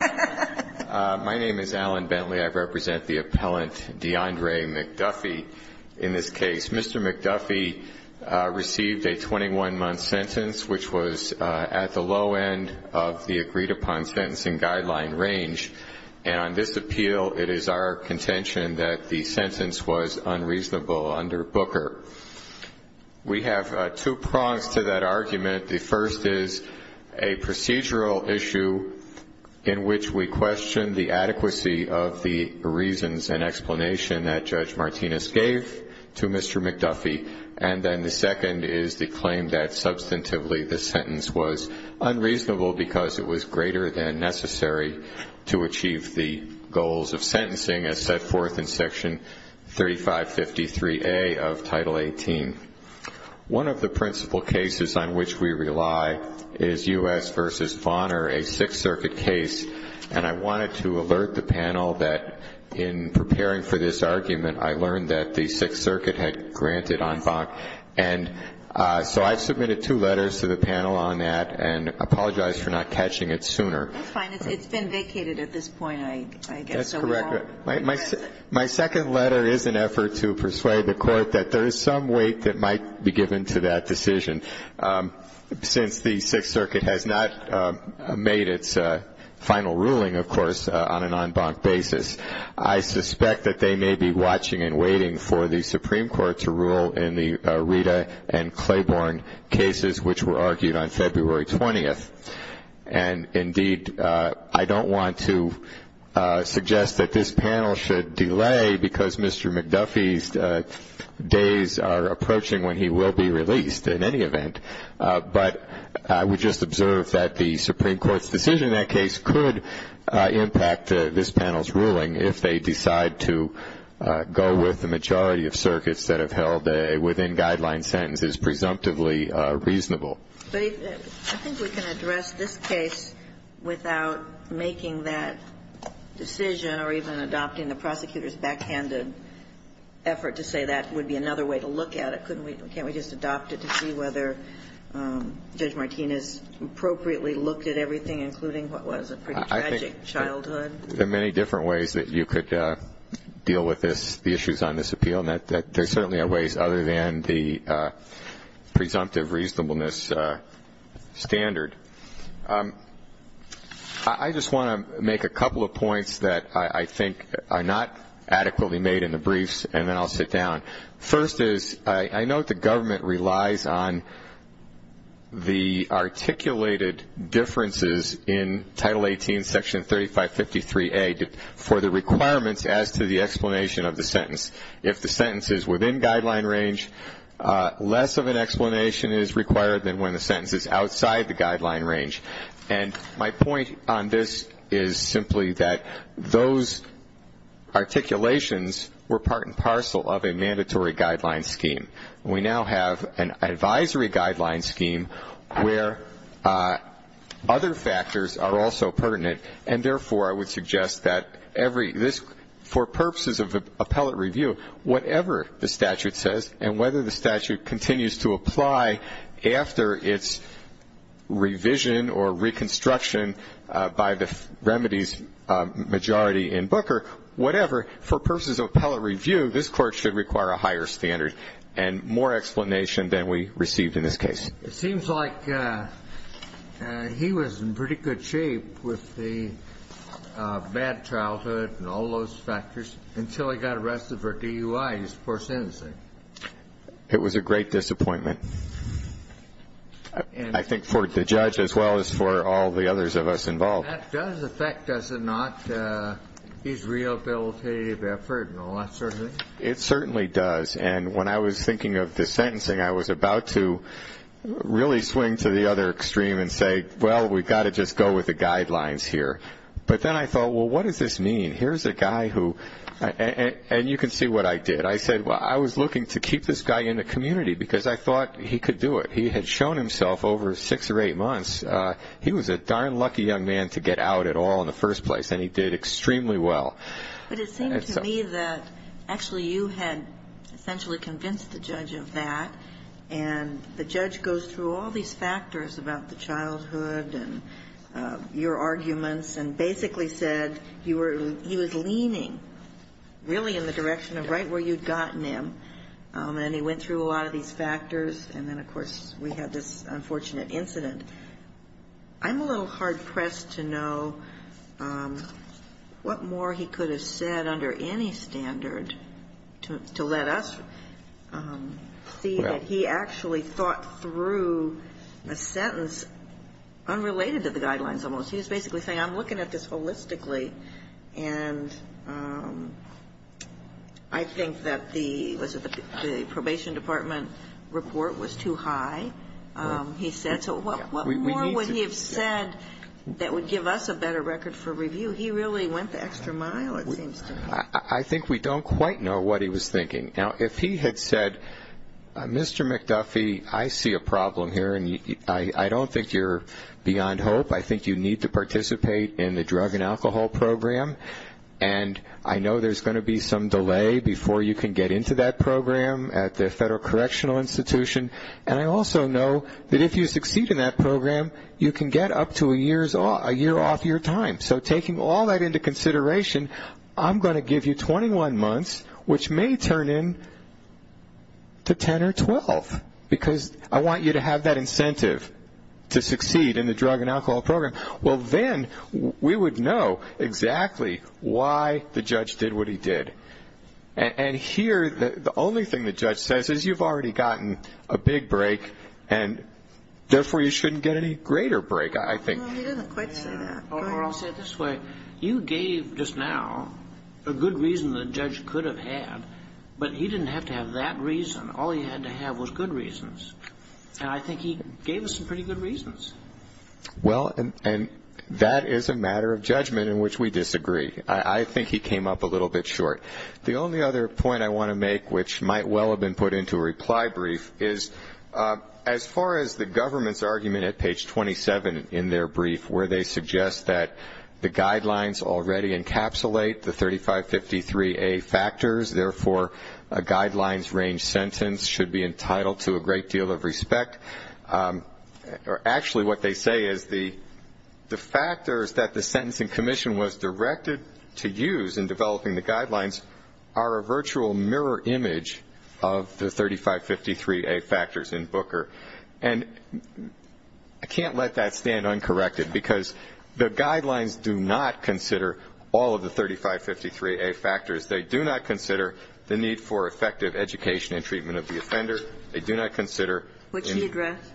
My name is Alan Bentley. I represent the appellant DeAndre McDuffie in this case. Mr. McDuffie received a 21-month sentence, which was at the low end of the agreed-upon sentencing guideline range. And on this appeal, it is our contention that the sentence was unreasonable under Booker. We have two prongs to that argument. The first is a procedural issue in which we question the adequacy of the reasons and explanation that Judge Martinez gave to Mr. McDuffie. And then the second is the claim that substantively the sentence was unreasonable because it was greater than necessary to achieve the goals of sentencing, as set forth in Section 3553A of Title 18. One of the principal cases on which we rely is U.S. v. Bonner, a Sixth Circuit case. And I wanted to alert the panel that in preparing for this argument, I learned that the Sixth Circuit had granted en banc. And so I've submitted two letters to the panel on that and apologize for not catching it sooner. That's fine. It's been vacated at this point, I guess. That's correct. My second letter is an effort to persuade the Court that there is some weight that might be given to that decision. Since the Sixth Circuit has not made its final ruling, of course, on an en banc basis, I suspect that they may be watching and waiting for the Supreme Court to rule in the Rita and Claiborne cases which were argued on February 20th. And, indeed, I don't want to suggest that this panel should delay because Mr. McDuffie's days are approaching when he will be released. In any event, but I would just observe that the Supreme Court's decision in that case could impact this panel's ruling if they decide to go with the majority of circuits that have held a within-guideline sentence is presumptively reasonable. But I think we can address this case without making that decision or even adopting the prosecutor's backhanded effort to say that would be another way to look at it. Can't we just adopt it to see whether Judge Martinez appropriately looked at everything, including what was a pretty tragic childhood? There are many different ways that you could deal with the issues on this appeal, and there certainly are ways other than the presumptive reasonableness standard. I just want to make a couple of points that I think are not adequately made in the briefs, and then I'll sit down. First is I note the government relies on the articulated differences in Title 18, Section 3553A, for the requirements as to the explanation of the sentence. If the sentence is within guideline range, less of an explanation is required than when the sentence is outside the guideline range. And my point on this is simply that those articulations were part and parcel of a mandatory guideline scheme. We now have an advisory guideline scheme where other factors are also pertinent, and therefore I would suggest that for purposes of appellate review, whatever the statute says and whether the statute continues to apply after its revision or reconstruction by the remedies majority in Booker, whatever, for purposes of appellate review, this Court should require a higher standard and more explanation than we received in this case. It seems like he was in pretty good shape with the bad childhood and all those factors until he got arrested for DUI, his first sentencing. It was a great disappointment, I think, for the judge as well as for all the others of us involved. That does affect, does it not, his rehabilitative effort and all that sort of thing? It certainly does. And when I was thinking of the sentencing, I was about to really swing to the other extreme and say, well, we've got to just go with the guidelines here. But then I thought, well, what does this mean? Here's a guy who, and you can see what I did. I said, well, I was looking to keep this guy in the community because I thought he could do it. He had shown himself over six or eight months. He was a darn lucky young man to get out at all in the first place, and he did extremely well. But it seemed to me that actually you had essentially convinced the judge of that, and the judge goes through all these factors about the childhood and your arguments and basically said he was leaning really in the direction of right where you'd gotten him. And he went through a lot of these factors, and then, of course, we had this unfortunate incident. I'm a little hard-pressed to know what more he could have said under any standard to let us see that he actually thought through a sentence unrelated to the guidelines almost. He was basically saying, I'm looking at this holistically, and I think that the probation department report was too high, he said. So what more would he have said that would give us a better record for review? He really went the extra mile, it seems to me. I think we don't quite know what he was thinking. Now, if he had said, Mr. McDuffie, I see a problem here, and I don't think you're beyond hope. I think you need to participate in the drug and alcohol program, and I know there's going to be some delay before you can get into that program at the Federal Correctional Institution. And I also know that if you succeed in that program, you can get up to a year off your time. So taking all that into consideration, I'm going to give you 21 months, which may turn into 10 or 12, because I want you to have that incentive to succeed in the drug and alcohol program. Well, then we would know exactly why the judge did what he did. And here the only thing the judge says is you've already gotten a big break, and therefore you shouldn't get any greater break, I think. He doesn't quite say that. Or I'll say it this way. You gave just now a good reason the judge could have had, but he didn't have to have that reason. All he had to have was good reasons. And I think he gave us some pretty good reasons. Well, and that is a matter of judgment in which we disagree. I think he came up a little bit short. The only other point I want to make, which might well have been put into a reply brief, is as far as the government's argument at page 27 in their brief, where they suggest that the guidelines already encapsulate the 3553A factors, therefore a guidelines-range sentence should be entitled to a great deal of respect. Actually, what they say is the factors that the sentencing commission was directed to use in developing the guidelines are a virtual mirror image of the 3553A factors in Booker. And I can't let that stand uncorrected, because the guidelines do not consider all of the 3553A factors. They do not consider the need for effective education and treatment of the offender. They do not consider the need for effective education and treatment of the offender. What she addressed.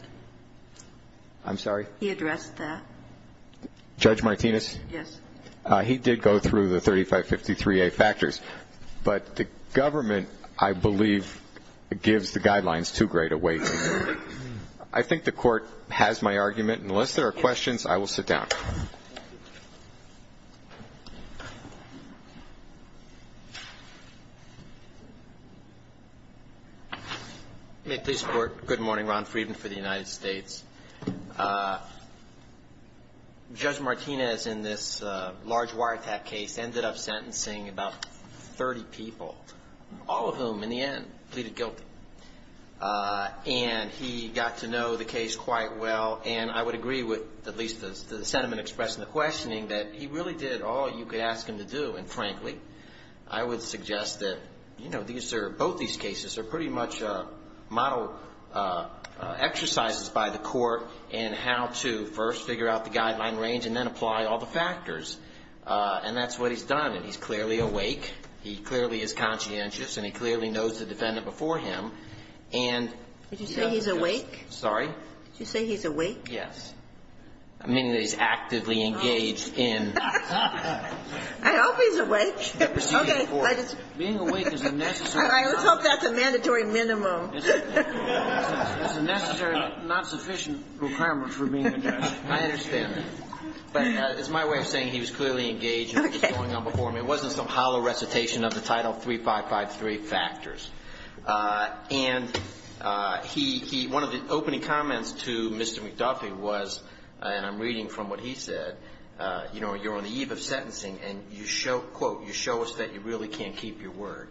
I'm sorry? He addressed that. Judge Martinez? Yes. He did go through the 3553A factors. But the government, I believe, gives the guidelines too great a weight. I think the Court has my argument. Unless there are questions, I will sit down. Thank you. May I please report? Good morning. Ron Friedman for the United States. Judge Martinez, in this large wiretap case, ended up sentencing about 30 people, all of whom, in the end, pleaded guilty. And he got to know the case quite well. And I would agree with at least the sentiment expressed in the questioning that he really did all you could ask him to do. And, frankly, I would suggest that, you know, both these cases are pretty much model exercises by the Court in how to first figure out the guideline range and then apply all the factors. And that's what he's done. And he's clearly awake. He clearly is conscientious. And he clearly knows the defendant before him. And he has this ---- Did you say he's awake? Sorry? Did you say he's awake? Yes. I'm meaning that he's actively engaged in this case. I hope he's awake. Okay. Being awake is a necessary ---- I always hope that's a mandatory minimum. It's a necessary, not sufficient requirement for being awake. I understand that. But it's my way of saying he was clearly engaged in what was going on before him. It wasn't some hollow recitation of the Title 3553 factors. And one of the opening comments to Mr. McDuffie was, and I'm reading from what he said, you know, you're on the eve of sentencing, and you show, quote, you show us that you really can't keep your word.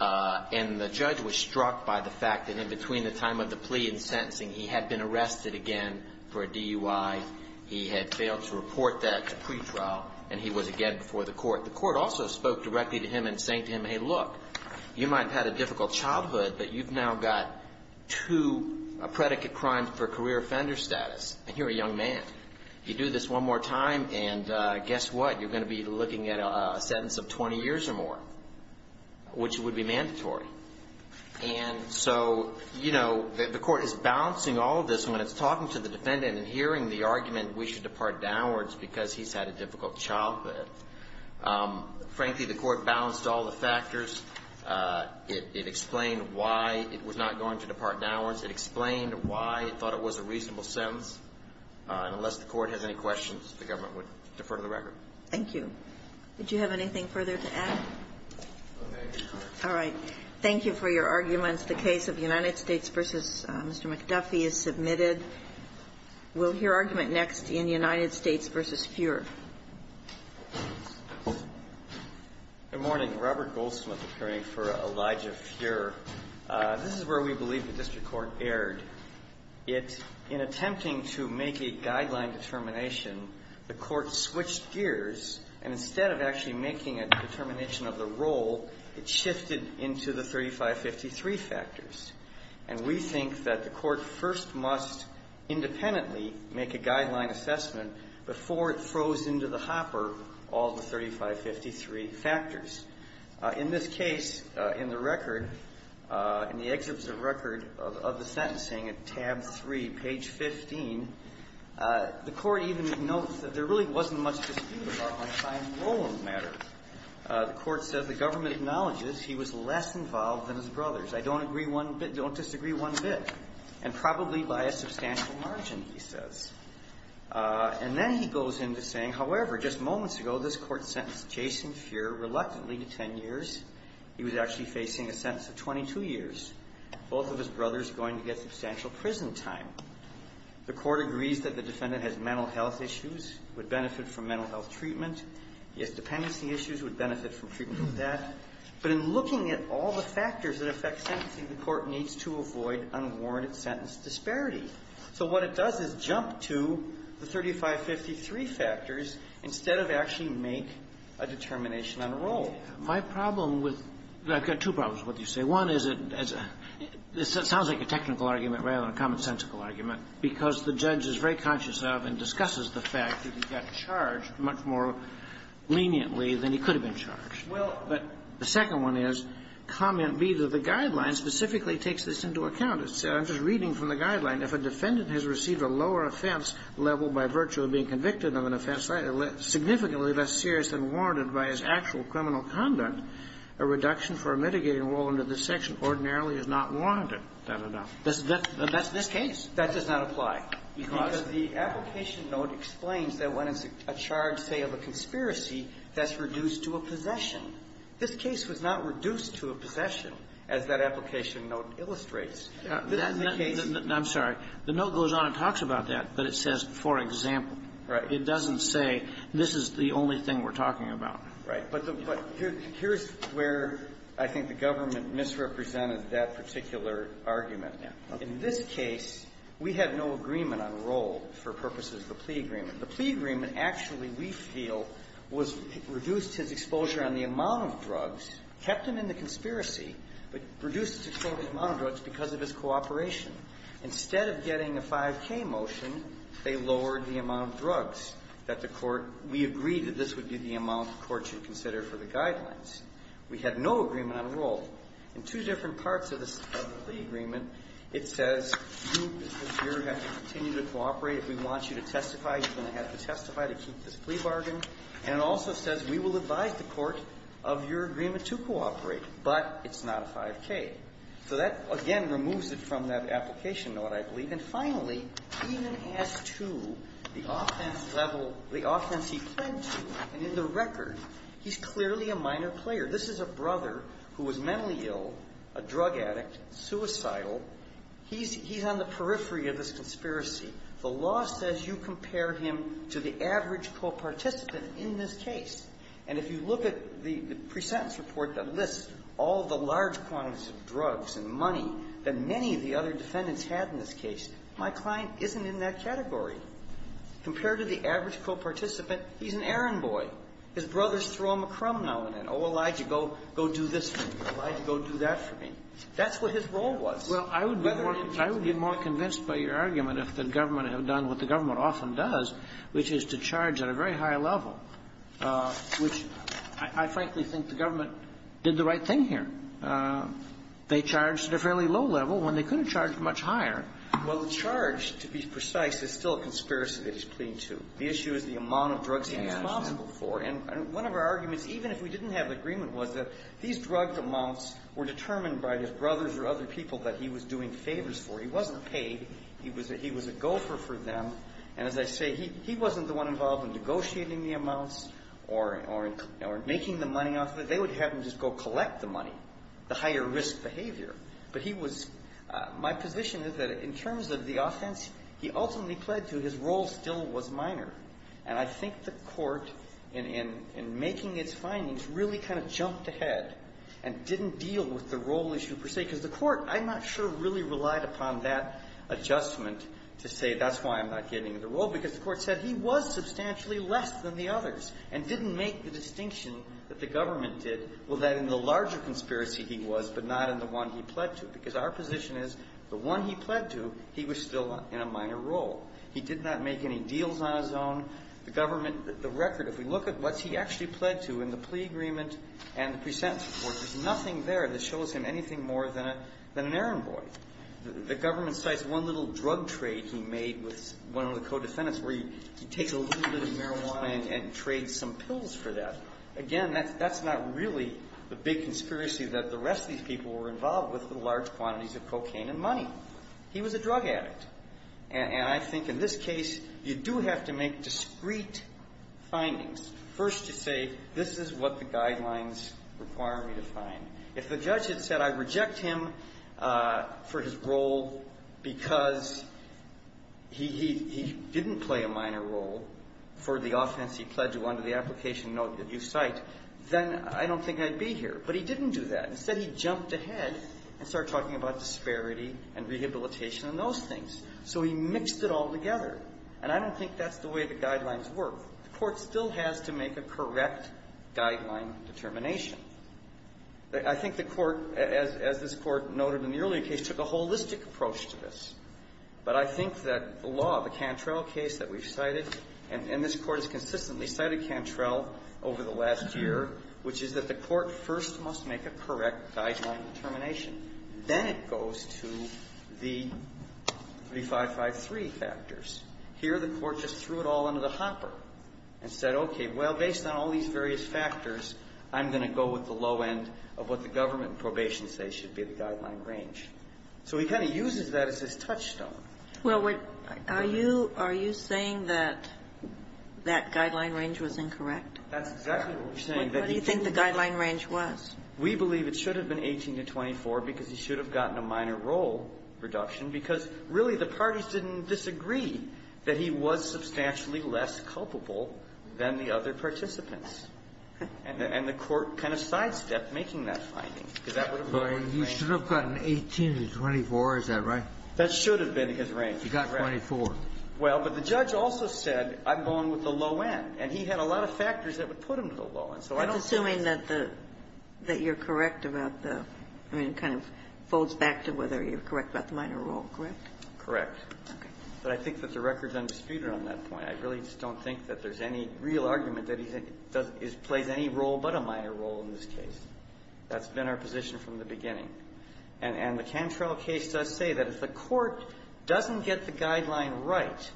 And the judge was struck by the fact that in between the time of the plea and sentencing, he had been arrested again for a DUI. He had failed to report that to pretrial, and he was again before the court. The court also spoke directly to him in saying to him, hey, look, you might have had a difficult childhood, but you've now got two predicate crimes for career offender status, and you're a young man. You do this one more time, and guess what? You're going to be looking at a sentence of 20 years or more, which would be mandatory. And so, you know, the court is balancing all of this when it's talking to the defendant and hearing the argument we should depart downwards because he's had a difficult childhood. Frankly, the court balanced all the factors. It explained why it was not going to depart downwards. It explained why it thought it was a reasonable sentence. And unless the court has any questions, the government would defer to the record. Thank you. Did you have anything further to add? All right. Thank you for your arguments. The case of United States v. Mr. McDuffie is submitted. We'll hear argument next in United States v. Fuhrer. Good morning. Robert Goldsmith, appearing for Elijah Fuhrer. This is where we believe the district court erred. In attempting to make a guideline determination, the court switched gears, and instead of actually making a determination of the role, it shifted into the 3553 factors. And we think that the court first must independently make a guideline assessment before it throws into the hopper all the 3553 factors. In this case, in the record, in the excerpts of record of the sentencing at tab 3, page 15, the court even notes that there really wasn't much dispute about my time role in the matter. The court says the government acknowledges he was less involved than his brothers. I don't agree one bit. Don't disagree one bit. And probably by a substantial margin, he says. And then he goes into saying, however, just moments ago, this court sentenced Jason Fuhrer reluctantly to 10 years. He was actually facing a sentence of 22 years. Both of his brothers are going to get substantial prison time. The court agrees that the defendant has mental health issues, would benefit from mental health treatment. He has dependency issues, would benefit from treatment of that. But in looking at all the factors that affect sentencing, the court needs to avoid unwarranted sentence disparity. So what it does is jump to the 3553 factors instead of actually make a determination on a role. My problem with – I've got two problems with what you say. One is it – it sounds like a technical argument rather than a commonsensical argument, because the judge is very conscious of and discusses the fact that he got charged much more leniently than he could have been charged. Well, but the second one is, comment B to the guidelines specifically takes this into account. It says, I'm just reading from the guideline, if a defendant has received a lower offense level by virtue of being convicted of an offense significantly less serious than warranted by his actual criminal conduct, a reduction for a mitigating role under this section ordinarily is not warranted then enough. That's this case. That does not apply. Because? Because the application note explains that when it's a charge, say, of a conspiracy, that's reduced to a possession. This case was not reduced to a possession, as that application note illustrates. This is the case. I'm sorry. The note goes on and talks about that, but it says, for example. Right. It doesn't say, this is the only thing we're talking about. Right. But here's where I think the government misrepresented that particular argument. In this case, we had no agreement on role for purposes of the plea agreement. The plea agreement actually, we feel, was reduced his exposure on the amount of drugs, kept him in the conspiracy, but reduced his exposure on the amount of drugs because of his cooperation. Instead of getting a 5K motion, they lowered the amount of drugs that the court, we agreed that this would be the amount the court should consider for the guidelines. We had no agreement on role. In two different parts of the plea agreement, it says you, as the juror, have to continue to cooperate. If we want you to testify, you're going to have to testify to keep this plea bargain. And it also says we will advise the court of your agreement to cooperate, but it's not a 5K. So that, again, removes it from that application note, I believe. And finally, even as to the offense level, the offense he pled to, and in the record, he's clearly a minor player. This is a brother who was mentally ill, a drug addict, suicidal. He's on the periphery of this conspiracy. The law says you compare him to the average co-participant in this case. And if you look at the presentence report that lists all the large quantities of drugs and money that many of the other defendants had in this case, my client isn't in that category. Compared to the average co-participant, he's an errand boy. His brothers throw him a crumb now and then. Oh, Elijah, go do this for me. Elijah, go do that for me. That's what his role was. Whether or not he testified. Well, I would be more convinced by your argument if the government had done what the government often does, which is to charge at a very high level, which I frankly think the government did the right thing here. They charged at a fairly low level when they could have charged much higher. Well, the charge, to be precise, is still a conspiracy that he's pleading to. The issue is the amount of drugs he was responsible for. And one of our arguments, even if we didn't have the agreement, was that these drug amounts were determined by his brothers or other people that he was doing favors for. He wasn't paid. He was a gopher for them. And as I say, he wasn't the one involved in negotiating the amounts or making the money off of it. They would have him just go collect the money, the higher risk behavior. But he was my position is that in terms of the offense, he ultimately pled to his role still was minor. And I think the court, in making its findings, really kind of jumped ahead and didn't deal with the role issue per se. Because the court, I'm not sure, really relied upon that adjustment to say that's why I'm not getting the role. Because the court said he was substantially less than the others and didn't make the distinction that the government did, well, that in the larger conspiracy he was, but not in the one he pled to. Because our position is the one he pled to, he was still in a minor role. He did not make any deals on his own. The government, the record, if we look at what he actually pled to in the plea agreement and the presentence report, there's nothing there that shows him anything more than an errand boy. The government cites one little drug trade he made with one of the co-defendants where he takes a little bit of marijuana and trades some pills for that. Again, that's not really the big conspiracy that the rest of these people were involved with, the large quantities of cocaine and money. He was a drug addict. And I think in this case, you do have to make discrete findings. First, to say this is what the guidelines require me to find. If the judge had said I reject him for his role because he didn't play a minor role for the offense he pled to under the application note that you cite, then I don't think I'd be here. But he didn't do that. Instead, he jumped ahead and started talking about disparity and rehabilitation and those things. So he mixed it all together. And I don't think that's the way the guidelines work. The court still has to make a correct guideline determination. I think the court, as this Court noted in the earlier case, took a holistic approach to this. But I think that the law, the Cantrell case that we've cited, and this Court has consistently cited Cantrell over the last year, which is that the court first must make a correct guideline determination. Then it goes to the 3553 factors. Here, the Court just threw it all under the hopper and said, okay, well, based on all these various factors, I'm going to go with the low end of what the government and probation say should be the guideline range. So he kind of uses that as his touchstone. Well, are you saying that that guideline range was incorrect? That's exactly what we're saying. What do you think the guideline range was? We believe it should have been 18 to 24 because he should have gotten a minor role reduction because, really, the parties didn't disagree that he was substantially less culpable than the other participants. And the Court kind of sidestepped making that finding because that would have been the right range. You should have gotten 18 to 24. Is that right? That should have been his range. You got 24. Well, but the judge also said, I'm going with the low end. And he had a lot of factors that would put him to the low end. So I don't think that's the case. I'm assuming that you're correct about the – I mean, it kind of folds back to whether you're correct about the minor role, correct? Correct. Okay. But I think that the record's undisputed on that point. I really just don't think that there's any real argument that he's played any role but a minor role in this case. That's been our position from the beginning. And the Cantrell case does say that if the Court doesn't get the guideline right,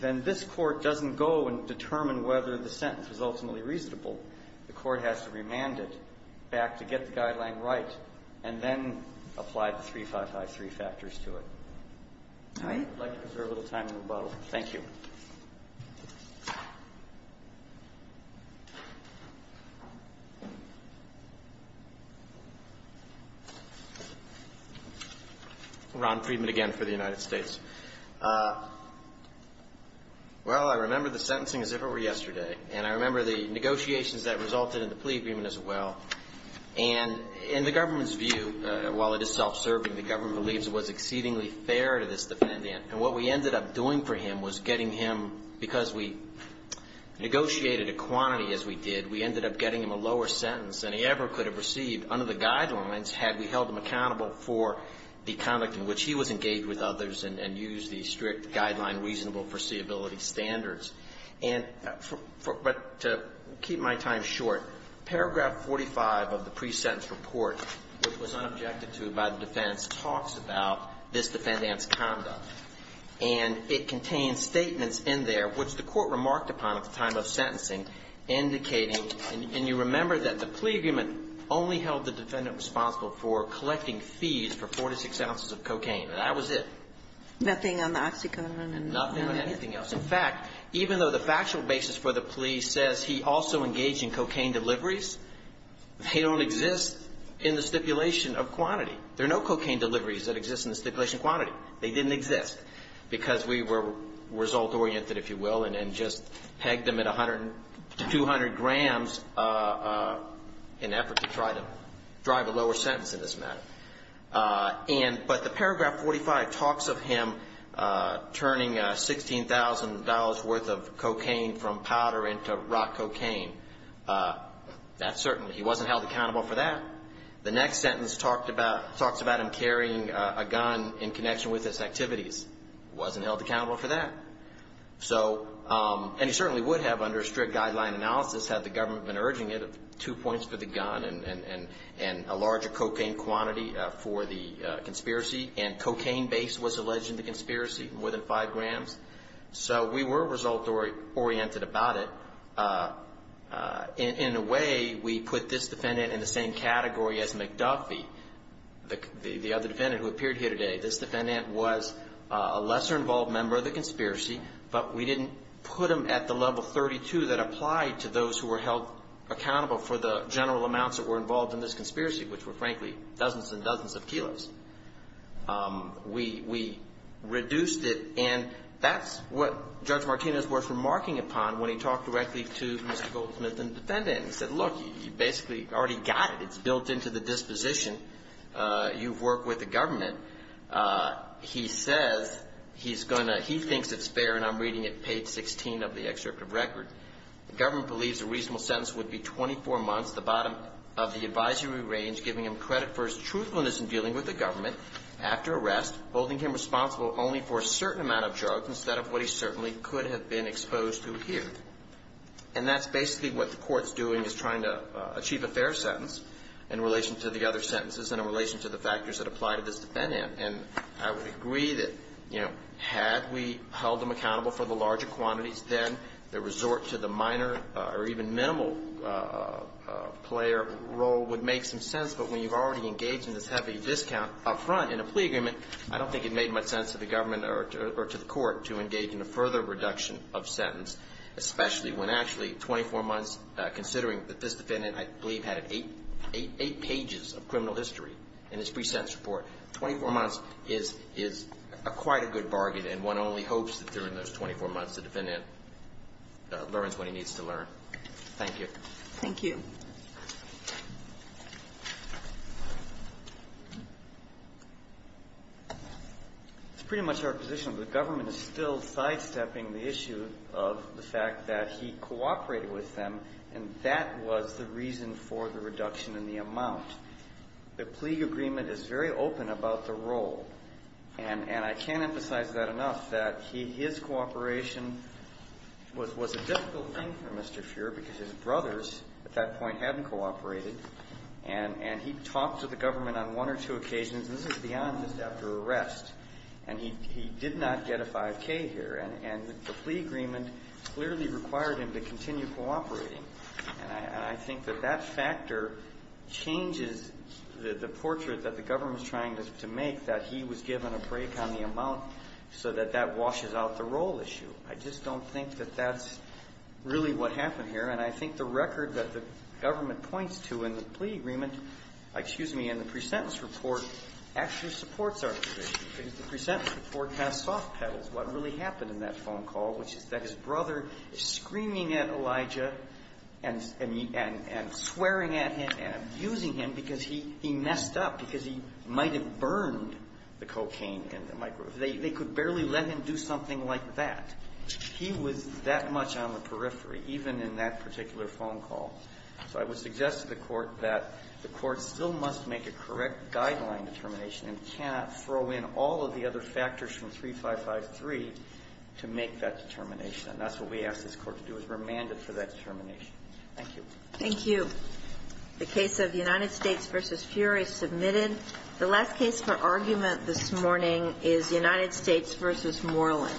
then this Court doesn't go and determine whether the sentence was ultimately reasonable. The Court has to remand it back to get the guideline right and then apply the 3553 factors to it. All right. I'd like to reserve a little time in rebuttal. Thank you. Ron Friedman again for the United States. Well, I remember the sentencing as if it were yesterday. And I remember the negotiations that resulted in the plea agreement as well. And in the government's view, while it is self-serving, the government believes it was exceedingly fair to this defendant. And what we ended up doing for him was getting him, because we negotiated a quantity as we did, we ended up getting him a lower sentence than he ever could have received under the guidelines had we held him accountable for the conduct in which he was engaged with others and used the strict guideline reasonable foreseeability standards. But to keep my time short, paragraph 45 of the pre-sentence report, which was unobjected to by the defense, talks about this defendant's conduct. And it contains statements in there which the Court remarked upon at the time of sentencing indicating, and you remember that the plea agreement only held the defendant responsible for collecting fees for 4 to 6 ounces of cocaine. That was it. Nothing on the OxyContin and nothing on anything else. In fact, even though the factual basis for the plea says he also engaged in cocaine deliveries that exist in the stipulation quantity, they didn't exist because we were result-oriented, if you will, and just pegged them at 100 to 200 grams in effort to try to drive a lower sentence in this matter. But the paragraph 45 talks of him turning $16,000 worth of cocaine from powder into rock cocaine. That certainly, he wasn't held accountable for that. The next sentence talks about him carrying a gun in connection with his activities. He wasn't held accountable for that. And he certainly would have under strict guideline analysis had the government been urging it of two points for the gun and a larger cocaine quantity for the conspiracy. And cocaine base was alleged in the conspiracy, more than 5 grams. So we were result-oriented about it. In a way, we put this defendant in the same category as McDuffie, the other defendant who appeared here today. This defendant was a lesser-involved member of the conspiracy, but we didn't put him at the level 32 that applied to those who were held accountable for the general amounts that were involved in this conspiracy, which were, frankly, dozens and dozens of kilos. We reduced it. And that's what Judge Martinez was remarking upon when he talked directly to Mr. Goldsmith and the defendant. He said, look, you basically already got it. It's built into the disposition. You've worked with the government. He says he's going to he thinks it's fair, and I'm reading it, page 16 of the excerpt of record. The government believes a reasonable sentence would be 24 months, the bottom of the advisory range, giving him credit for his truthfulness in dealing with the government after arrest, holding him responsible only for a certain amount of drugs instead of what he certainly could have been exposed to here. And that's basically what the Court's doing is trying to achieve a fair sentence in relation to the other sentences and in relation to the factors that apply to this defendant. And I would agree that, you know, had we held him accountable for the larger quantities, then the resort to the minor or even minimal player role would make some sense. But when you've already engaged in this heavy discount up front in a plea agreement, I don't think it made much sense to the government or to the Court to engage in a further reduction of sentence, especially when, actually, 24 months, considering that this defendant, I believe, had eight pages of criminal history in his pre-sentence report, 24 months is quite a good bargain. And one only hopes that during those 24 months, the defendant learns what he needs to learn. Thank you. It's pretty much our position, but the government is still sidestepping the issue of the fact that he cooperated with them, and that was the reason for the reduction in the amount. The plea agreement is very open about the role. And I can't emphasize that enough, that his cooperation was a difficult thing for Mr. Fuhrer, because his brothers at that point hadn't cooperated. And he talked to the government on one or two occasions. This is beyond just after arrest. And he did not get a 5K here. And the plea agreement clearly required him to continue cooperating. And I think that that factor changes the portrait that the government is trying to make, that he was given a break on the amount so that that washes out the role issue. I just don't think that that's really what happened here. And I think the record that the government points to in the plea agreement excuse me, in the pre-sentence report actually supports our position, because the pre-sentence report has soft pedals. And he was looking at Elijah and swearing at him and abusing him because he messed up, because he might have burned the cocaine in the microwave. They could barely let him do something like that. He was that much on the periphery, even in that particular phone call. So I would suggest to the Court that the Court still must make a correct guideline determination and cannot throw in all of the other factors from 3553 to make that determination. And that's what we ask this Court to do, is remand him for that determination. Thank you. Thank you. The case of United States v. Fury submitted. The last case for argument this morning is United States v. Moreland.